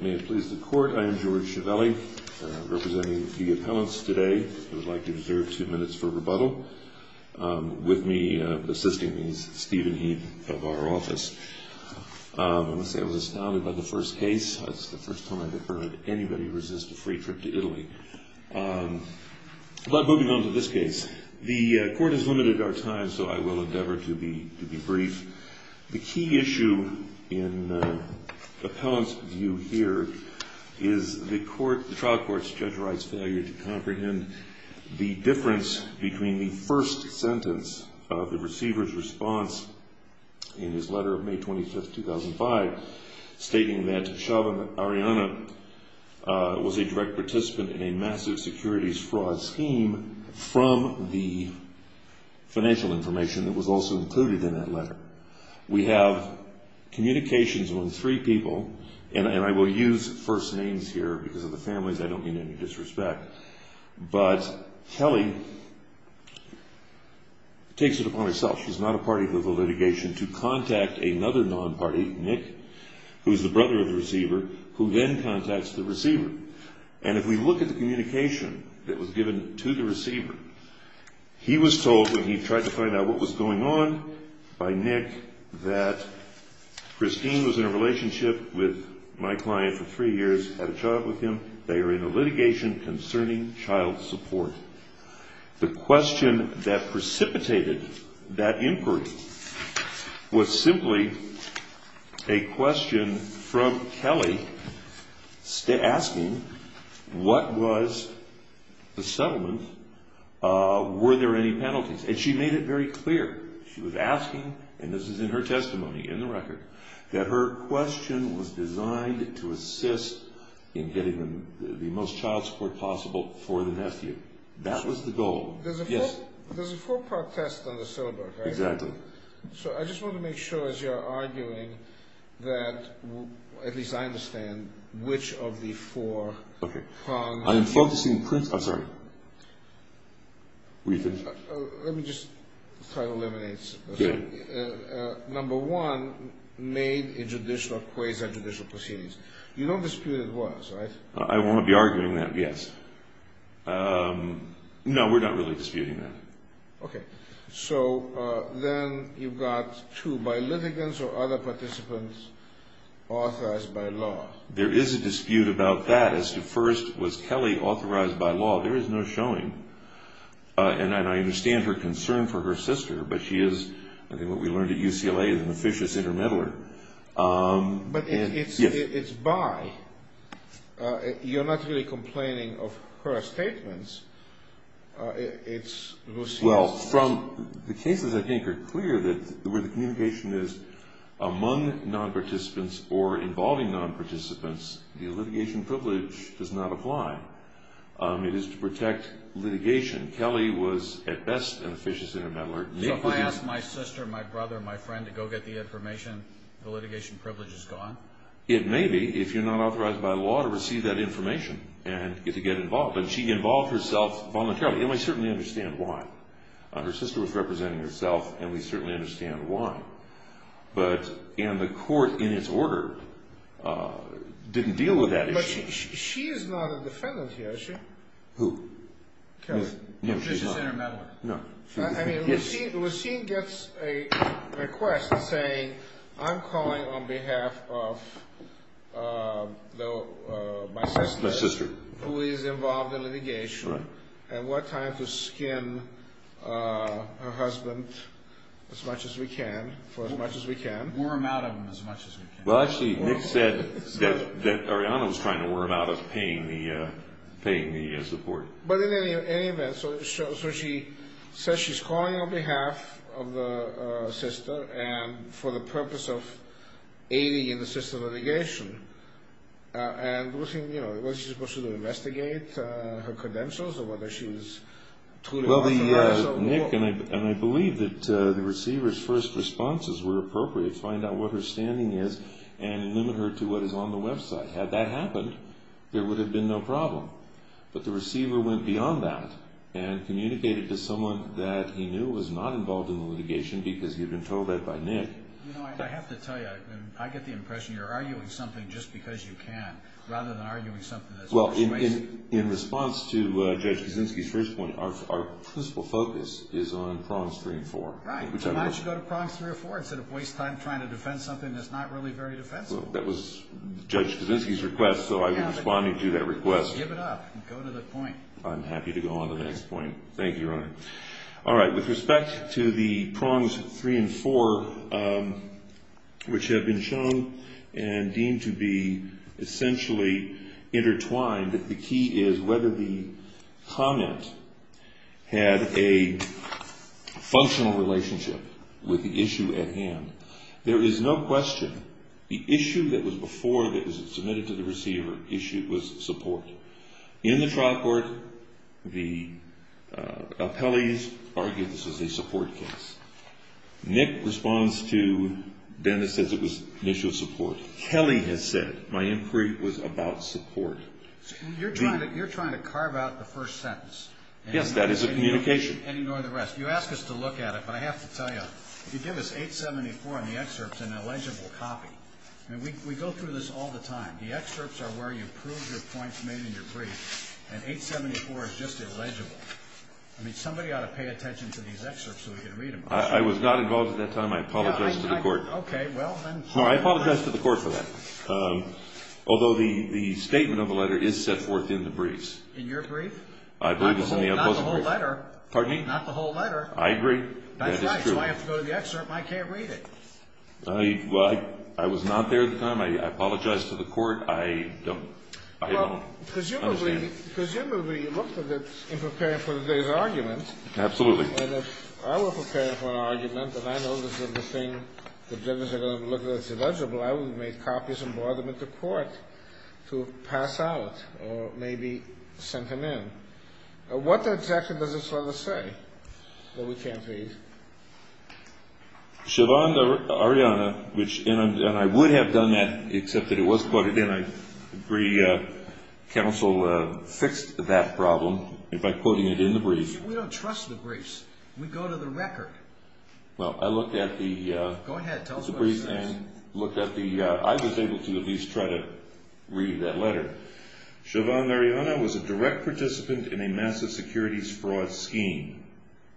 May it please the Court, I am George Ciavelli, representing the appellants today. I would like to reserve two minutes for rebuttal. With me, assisting me, is Stephen Heath of our office. I must say I was astounded by the first case. It's the first time I've ever heard anybody resist a free trip to Italy. Moving on to this case, the Court has limited our time, so I will endeavor to be brief. The key issue in the appellant's view here is the trial court's judge writes failure to comprehend the difference between the first sentence of the receiver's response in his letter of May 25, 2005, stating that Shaban Arianna was a direct participant in a massive securities fraud scheme from the financial information that was also included in that letter. We have communications among three people, and I will use first names here because of the families, I don't mean any disrespect, but Kelly takes it upon herself, she's not a party to the litigation, to contact another non-party, Nick, who is the brother of the receiver, who then contacts the receiver. And if we look at the communication that was given to the receiver, he was told when he tried to find out what was going on by Nick, that Christine was in a relationship with my client for three years, had a child with him, they are in a litigation concerning child support. The question that precipitated that inquiry was simply a question from Kelly asking, what was the settlement, were there any penalties? And she made it very clear, she was asking, and this is in her testimony, in the record, that her question was designed to assist in getting the most child support possible for the nephew. That was the goal. There's a four-part test on the syllabus, right? Exactly. So I just want to make sure, as you are arguing, that at least I understand which of the four prongs... Okay. I am focusing... I'm sorry. Let me just try to eliminate... Yeah. Number one, made a judicial quiz and judicial proceedings. You don't dispute it was, right? I won't be arguing that, yes. No, we're not really disputing that. Okay. So then you've got two, by litigants or other participants authorized by law? There is a dispute about that, as to first, was Kelly authorized by law? There is no showing. And I understand her concern for her sister, but she is, I think what we learned at UCLA, an officious intermeddler. But it's by. You're not really complaining of her statements. Well, the cases, I think, are clear that where the communication is among non-participants or involving non-participants, the litigation privilege does not apply. It is to protect litigation. Kelly was, at best, an officious intermeddler. So if I ask my sister, my brother, my friend to go get the information, the litigation privilege is gone? It may be, if you're not authorized by law to receive that information and to get involved. But she involved herself voluntarily, and we certainly understand why. Her sister was representing herself, and we certainly understand why. But, and the court, in its order, didn't deal with that issue. She is not a defendant here, is she? Who? Kelly. An officious intermeddler. No. I mean, Lucene gets a request saying, I'm calling on behalf of my sister. My sister. Who is involved in litigation, and we're trying to skin her husband as much as we can, for as much as we can. Worm out of him as much as we can. Well, actually, Nick said that Arianna was trying to worm out of paying the support. But in any event, so she says she's calling on behalf of the sister, and for the purpose of aiding in the system of litigation. And, Lucene, you know, was she supposed to investigate her credentials or whether she was truly involved in litigation? Nick, and I believe that the receiver's first responses were appropriate to find out what her standing is, and limit her to what is on the website. Had that happened, there would have been no problem. But the receiver went beyond that and communicated to someone that he knew was not involved in litigation, because he had been told that by Nick. You know, I have to tell you, I get the impression you're arguing something just because you can, rather than arguing something that's persuasive. In response to Judge Kuczynski's first point, our principal focus is on prongs three and four. Right. Why don't you go to prongs three or four instead of wasting time trying to defend something that's not really very defensible? That was Judge Kuczynski's request, so I'm responding to that request. Give it up. Go to the point. I'm happy to go on to the next point. Thank you, Your Honor. All right. With respect to the prongs three and four, which have been shown and deemed to be essentially intertwined, the key is whether the comment had a functional relationship with the issue at hand. There is no question the issue that was before that was submitted to the receiver was support. In the trial court, the appellees argued this was a support case. Nick responds to Dennis, says it was an issue of support. Kelly has said, my inquiry was about support. You're trying to carve out the first sentence. Yes, that is a communication. And ignore the rest. You ask us to look at it, but I have to tell you, you give us 874 in the excerpts and an illegible copy. I mean, we go through this all the time. The excerpts are where you prove your points made in your brief, and 874 is just illegible. I mean, somebody ought to pay attention to these excerpts so we can read them. I was not involved at that time. I apologize to the court. Okay, well, then. No, I apologize to the court for that. Although the statement of the letter is set forth in the briefs. In your brief? I believe it's in the outpost brief. Not the whole letter. Pardon me? Not the whole letter. I agree. That's right, so I have to go to the excerpt, and I can't read it. Well, I was not there at the time. I apologize to the court. I don't understand. Well, presumably, you looked at it in preparing for today's argument. Absolutely. And if I were preparing for an argument, and I know this is the thing the judges are going to look at as illegible, I would have made copies and brought them into court to pass out or maybe sent them in. What exactly does this letter say that we can't read? Siobhan Mariana, and I would have done that, except that it was quoted in. I agree counsel fixed that problem by quoting it in the brief. We don't trust the briefs. We go to the record. Well, I looked at the brief and looked at the – I was able to at least try to read that letter. Siobhan Mariana was a direct participant in a massive securities fraud scheme.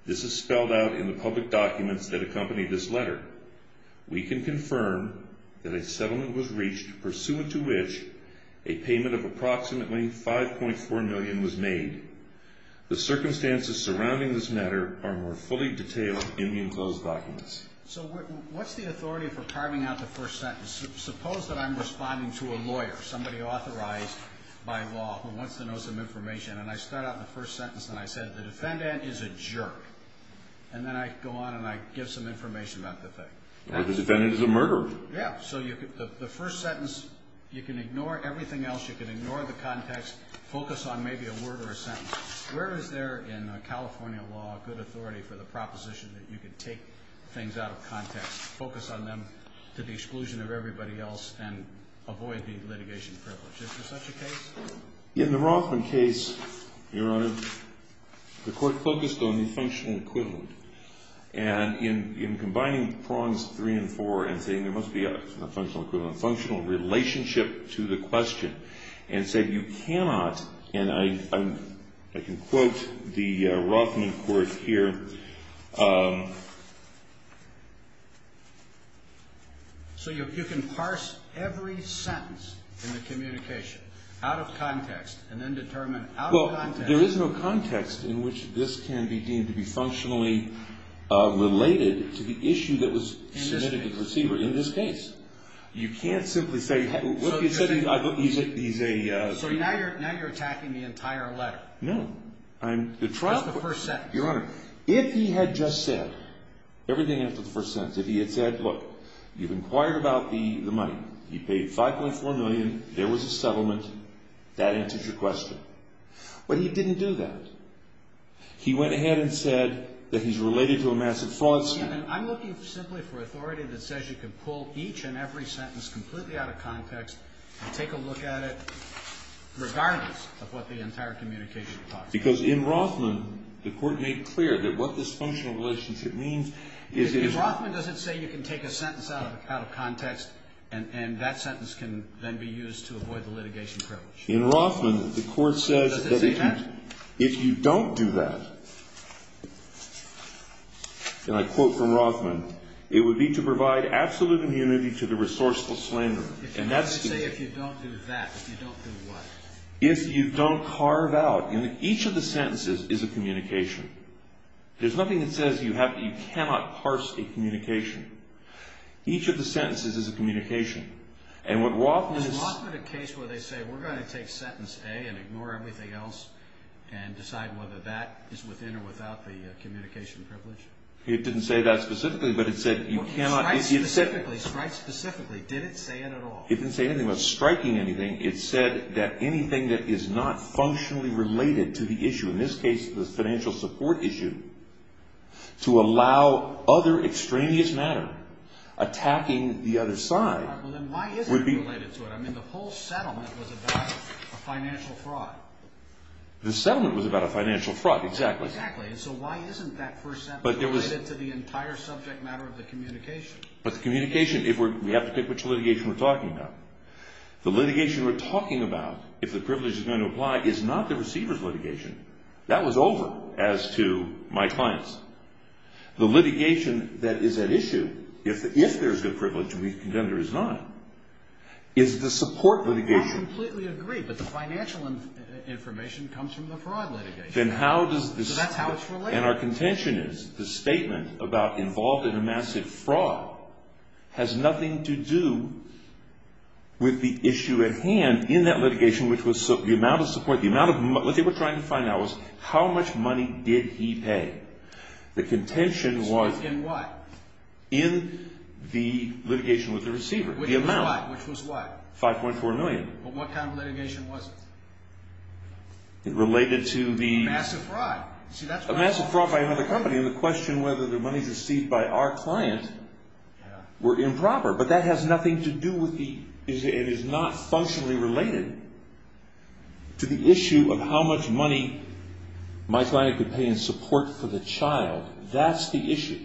This is spelled out in the public documents that accompany this letter. We can confirm that a settlement was reached pursuant to which a payment of approximately $5.4 million was made. The circumstances surrounding this matter are more fully detailed in the enclosed documents. So what's the authority for carving out the first sentence? Suppose that I'm responding to a lawyer, somebody authorized by law who wants to know some information, and I start out the first sentence and I say the defendant is a jerk. And then I go on and I give some information about the thing. Or the defendant is a murderer. Yeah. So the first sentence, you can ignore everything else. You can ignore the context, focus on maybe a word or a sentence. Where is there in California law good authority for the proposition that you can take things out of context, focus on them to the exclusion of everybody else, and avoid the litigation privilege? Is there such a case? In the Rothman case, Your Honor, the court focused on the functional equivalent. And in combining prongs three and four and saying there must be a functional equivalent, a functional relationship to the question, and said you cannot, and I can quote the Rothman court here. So you can parse every sentence in the communication out of context and then determine out of context. Well, there is no context in which this can be deemed to be functionally related to the issue that was submitted to the receiver in this case. You can't simply say, look, he's a. So now you're attacking the entire letter. No. That's the first sentence. Your Honor, if he had just said everything after the first sentence, if he had said, look, you've inquired about the money, he paid 5.4 million, there was a settlement, that answers your question. But he didn't do that. He went ahead and said that he's related to a massive fraud scheme. I'm looking simply for authority that says you can pull each and every sentence completely out of context and take a look at it regardless of what the entire communication talks about. Because in Rothman, the court made clear that what this functional relationship means is. In Rothman, does it say you can take a sentence out of context and that sentence can then be used to avoid the litigation privilege? In Rothman, the court says. Does it say that? If you don't do that, and I quote from Rothman, it would be to provide absolute immunity to the resourceful slander. I would say if you don't do that, if you don't do what? If you don't carve out. Each of the sentences is a communication. There's nothing that says you cannot parse a communication. Each of the sentences is a communication. And what Rothman is. Is Rothman a case where they say we're going to take sentence A and ignore everything else and decide whether that is within or without the communication privilege? It didn't say that specifically, but it said you cannot. Strike specifically, strike specifically. Did it say it at all? It didn't say anything about striking anything. It said that anything that is not functionally related to the issue, in this case the financial support issue, to allow other extraneous matter attacking the other side would be. All right, well then why isn't it related to it? I mean the whole settlement was about a financial fraud. The settlement was about a financial fraud, exactly. Exactly, and so why isn't that first sentence related to the entire subject matter of the communication? But the communication, we have to pick which litigation we're talking about. The litigation we're talking about, if the privilege is going to apply, is not the receiver's litigation. That was over as to my clients. The litigation that is at issue, if there's a privilege and the contender is not, is the support litigation. I completely agree, but the financial information comes from the fraud litigation. So that's how it's related. And our contention is the statement about involved in a massive fraud has nothing to do with the issue at hand in that litigation, which was the amount of support, the amount of money. What they were trying to find out was how much money did he pay? The contention was in the litigation with the receiver, the amount. Which was what? 5.4 million. What kind of litigation was it? Related to the… Massive fraud. Massive fraud by another company. And the question whether the money received by our client were improper. But that has nothing to do with the issue. It is not functionally related to the issue of how much money my client could pay in support for the child. That's the issue.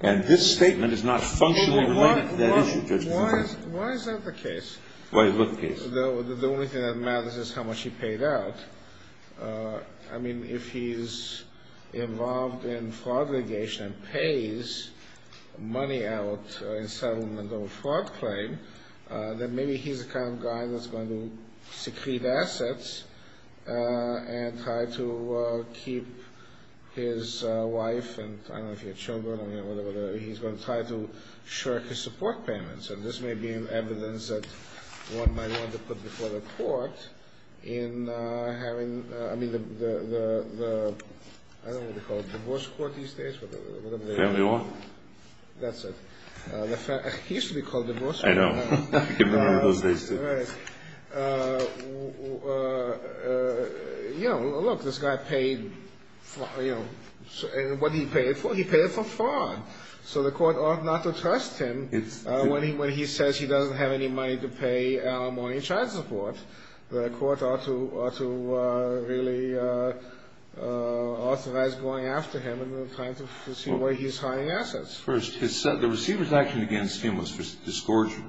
And this statement is not functionally related to that issue. Why is that the case? Why is what the case? The only thing that matters is how much he paid out. I mean, if he's involved in fraud litigation and pays money out in settlement of a fraud claim, then maybe he's the kind of guy that's going to secrete assets and try to keep his wife, and I don't know if he had children or whatever, he's going to try to shirk his support payments. And this may be evidence that one might want to put before the court in having, I mean, the, I don't know what they call it, divorce court these days? Family law? That's it. It used to be called divorce court. I know. I can remember those days, too. Right. You know, look, this guy paid, you know, what did he pay it for? He paid it for fraud. So the court ought not to trust him when he says he doesn't have any money to pay out more in child support. The court ought to really authorize going after him and trying to see where he's hiding assets. First, the receiver's action against him was discouraging.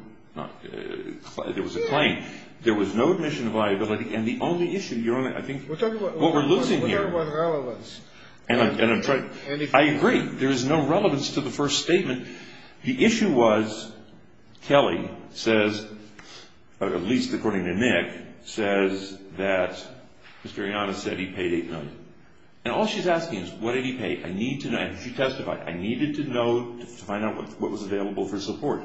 There was a claim. There was no admission of liability. And the only issue, I think, what we're losing here. We're talking about relevance. I agree. There is no relevance to the first statement. The issue was Kelly says, or at least according to Nick, says that Mr. Yanis said he paid 8 million. And all she's asking is what did he pay? I need to know. And she testified. I needed to know to find out what was available for support.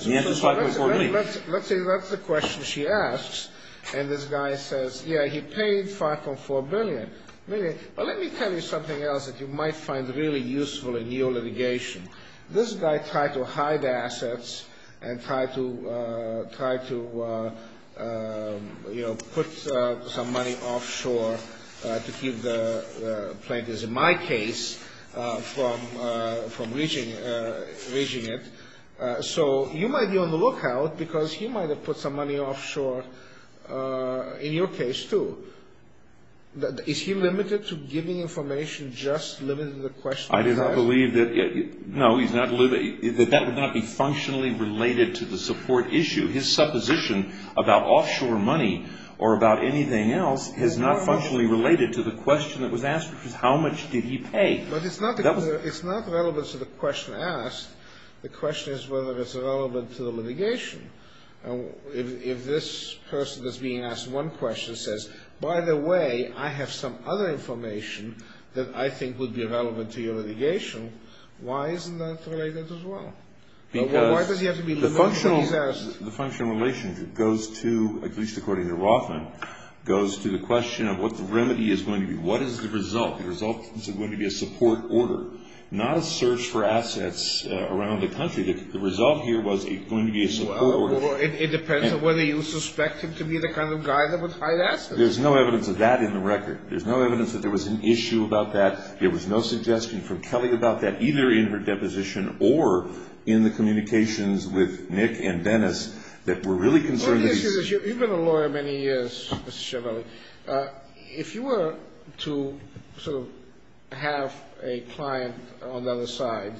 He answered 5.4 million. Let's say that's the question she asks. And this guy says, yeah, he paid 5.4 billion. Let me tell you something else that you might find really useful in your litigation. This guy tried to hide assets and tried to, you know, put some money offshore to keep the plaintiffs, in my case, from reaching it. So you might be on the lookout because he might have put some money offshore in your case, too. Is he limited to giving information just limited to the question he's asking? I do not believe that. No, he's not. That would not be functionally related to the support issue. His supposition about offshore money or about anything else is not functionally related to the question that was asked, which is how much did he pay? But it's not relevant to the question asked. The question is whether it's relevant to the litigation. If this person that's being asked one question says, by the way, I have some other information that I think would be relevant to your litigation, why isn't that related as well? Because the functional relationship goes to, at least according to Rothman, goes to the question of what the remedy is going to be. What is the result? The result is going to be a support order, not a search for assets around the country. The result here was going to be a support order. Well, it depends on whether you suspect him to be the kind of guy that would hide assets. There's no evidence of that in the record. There's no evidence that there was an issue about that. There was no suggestion from Kelly about that, either in her deposition or in the communications with Nick and Dennis that were really concerned. You've been a lawyer many years, Mr. Chiavelli. If you were to sort of have a client on the other side,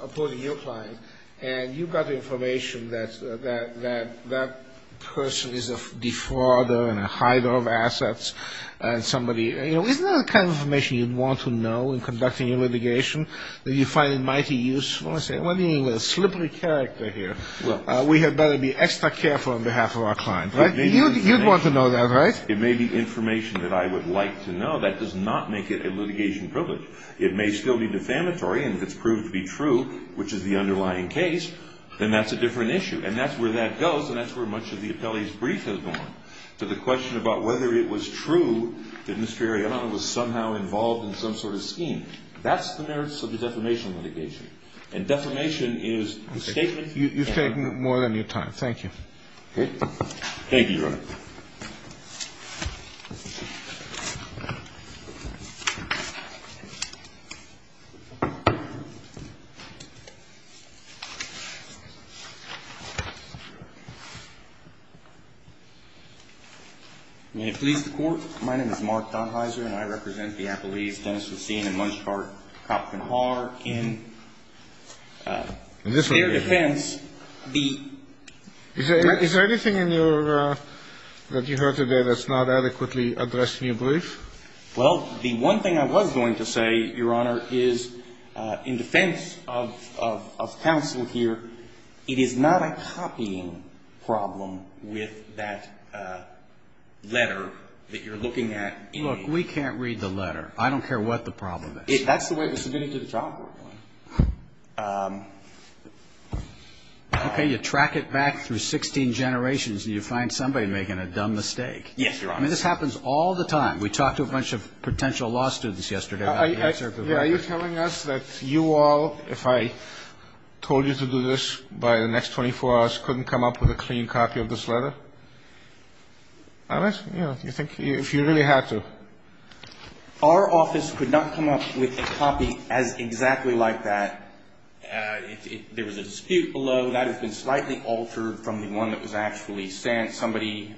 opposing your client, and you got the information that that person is a defrauder and a hider of assets, and somebody, you know, isn't that the kind of information you'd want to know in conducting your litigation, that you find it mighty useful? I say, what do you mean with a slippery character here? We had better be extra careful on behalf of our client, right? You'd want to know that, right? It may be information that I would like to know. That does not make it a litigation privilege. It may still be defamatory, and if it's proved to be true, which is the underlying case, then that's a different issue. And that's where that goes, and that's where much of the appellee's brief has gone. So the question about whether it was true that Mr. Arianna was somehow involved in some sort of scheme, that's the merits of a defamation litigation. And defamation is the statement... You've taken more than your time. Thank you. Thank you, Your Honor. May it please the Court. My name is Mark Donheiser, and I represent the appellees Dennis Racine and Munshfart Copkin-Harr in their defense. Is there anything in your – that you heard today that's not adequately addressed in your brief? Well, the one thing I was going to say, Your Honor, is in defense of counsel here, it is not a copying problem with that letter that you're looking at. Look, we can't read the letter. I don't care what the problem is. That's the way it was submitted to the child court. Okay, you track it back through 16 generations, and you find somebody making a dumb mistake. Yes, Your Honor. I mean, this happens all the time. We talked to a bunch of potential law students yesterday. Are you telling us that you all, if I told you to do this by the next 24 hours, couldn't come up with a clean copy of this letter? I'm asking, you know, if you really had to. Our office could not come up with a copy as exactly like that. There was a dispute below. That has been slightly altered from the one that was actually sent. I mean, somebody,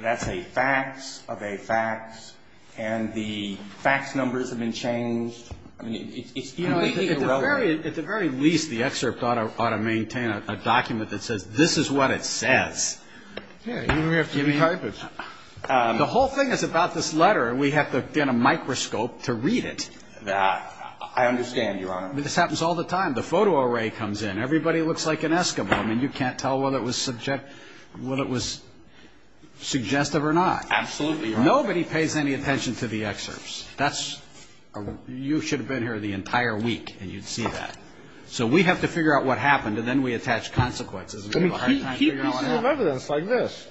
that's a fax of a fax, and the fax numbers have been changed. I mean, it's completely irrelevant. At the very least, the excerpt ought to maintain a document that says, this is what it says. Even if we have to re-type it. The whole thing is about this letter, and we have to get a microscope to read it. I understand, Your Honor. This happens all the time. The photo array comes in. Everybody looks like an Eskimo. I mean, you can't tell whether it was suggestive or not. Absolutely, Your Honor. Nobody pays any attention to the excerpts. You should have been here the entire week, and you'd see that. So we have to figure out what happened, and then we attach consequences. We have a hard time figuring out what happened. I mean, keep pieces of evidence like this.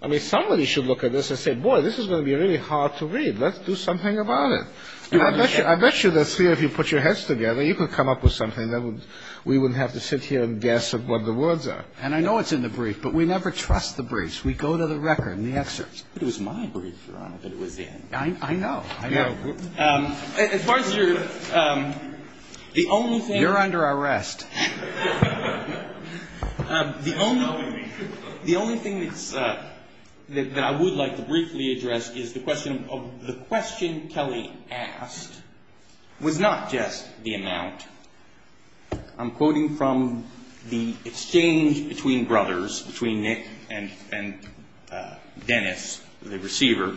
I mean, somebody should look at this and say, boy, this is going to be really hard to read. Let's do something about it. I bet you that's clear if you put your heads together. You could come up with something. We wouldn't have to sit here and guess what the words are. And I know it's in the brief, but we never trust the briefs. We go to the record and the excerpts. It was my brief, Your Honor, that it was in. I know. I know. As far as your – the only thing – You're under arrest. The only thing that I would like to briefly address is the question of the question Kelly asked was not just the amount. I'm quoting from the exchange between brothers, between Nick and Dennis, the receiver.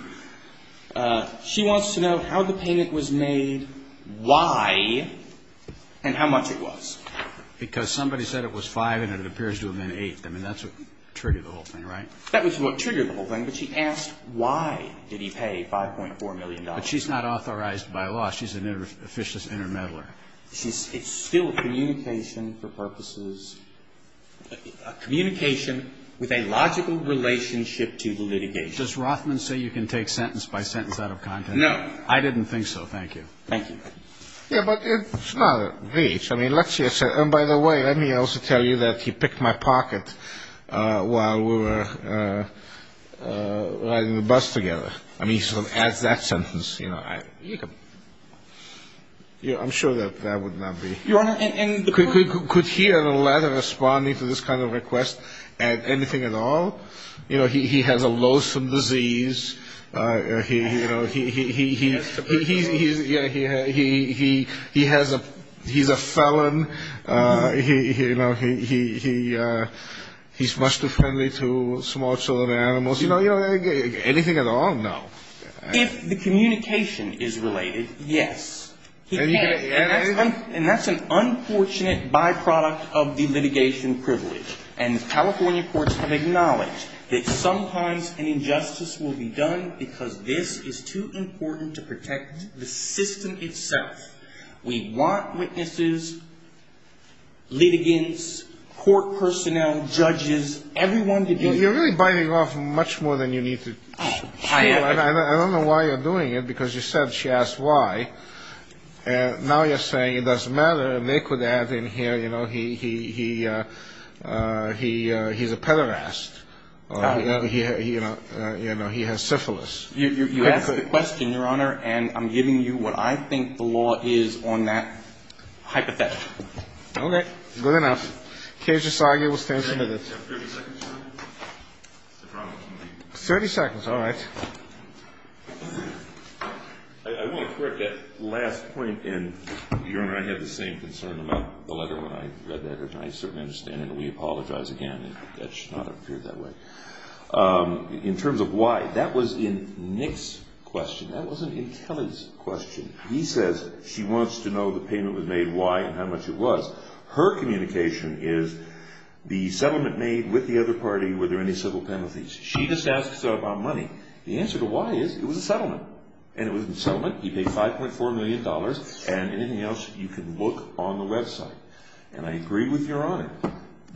She wants to know how the payment was made, why, and how much it was. Because somebody said it was 5 and it appears to have been 8. I mean, that's what triggered the whole thing, right? That was what triggered the whole thing. But she asked why did he pay $5.4 million. But she's not authorized by law. She's an officious intermeddler. It's still a communication for purposes – a communication with a logical relationship to the litigation. Does Rothman say you can take sentence by sentence out of context? No. I didn't think so. Thank you. Thank you. Yeah, but it's not a breach. I mean, let's just – and by the way, let me also tell you that he picked my pocket while we were riding the bus together. I mean, he sort of adds that sentence. You know, I'm sure that that would not be – Your Honor, could he or the latter responding to this kind of request add anything at all? You know, he has a loathsome disease. You know, he has a – he's a felon. You know, he's much too friendly to small children and animals. You know, anything at all? No. If the communication is related, yes. And that's an unfortunate byproduct of the litigation privilege. And California courts have acknowledged that sometimes an injustice will be done because this is too important to protect the system itself. We want witnesses, litigants, court personnel, judges, everyone to be – You're really biting off much more than you need to chew. I am. I don't know why you're doing it, because you said she asked why. Now you're saying it doesn't matter. You know, he's a pederast. You know, he has syphilis. You asked the question, Your Honor, and I'm giving you what I think the law is on that hypothetical. Okay. Good enough. Keiji Sagi will stand submitted. Do I have 30 seconds? I promise. 30 seconds. All right. I want to correct that last point, and, Your Honor, I had the same concern about the letter when I read that. I certainly understand, and we apologize again. That should not have appeared that way. In terms of why, that was in Nick's question. That wasn't in Kelly's question. He says she wants to know the payment was made, why, and how much it was. Her communication is the settlement made with the other party, were there any civil penalties. She just asked about money. The answer to why is it was a settlement, and it was a settlement. He paid $5.4 million, and anything else you can look on the website, and I agree with Your Honor.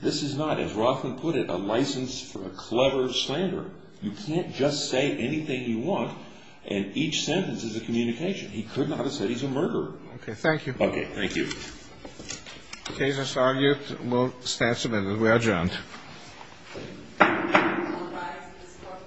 This is not, as Rothman put it, a license for a clever slander. You can't just say anything you want, and each sentence is a communication. He could not have said he's a murderer. Okay. Thank you. Okay. Thank you. Keiji Sagi will stand submitted. We are adjourned. All rise for the support for this session. It is now adjourned.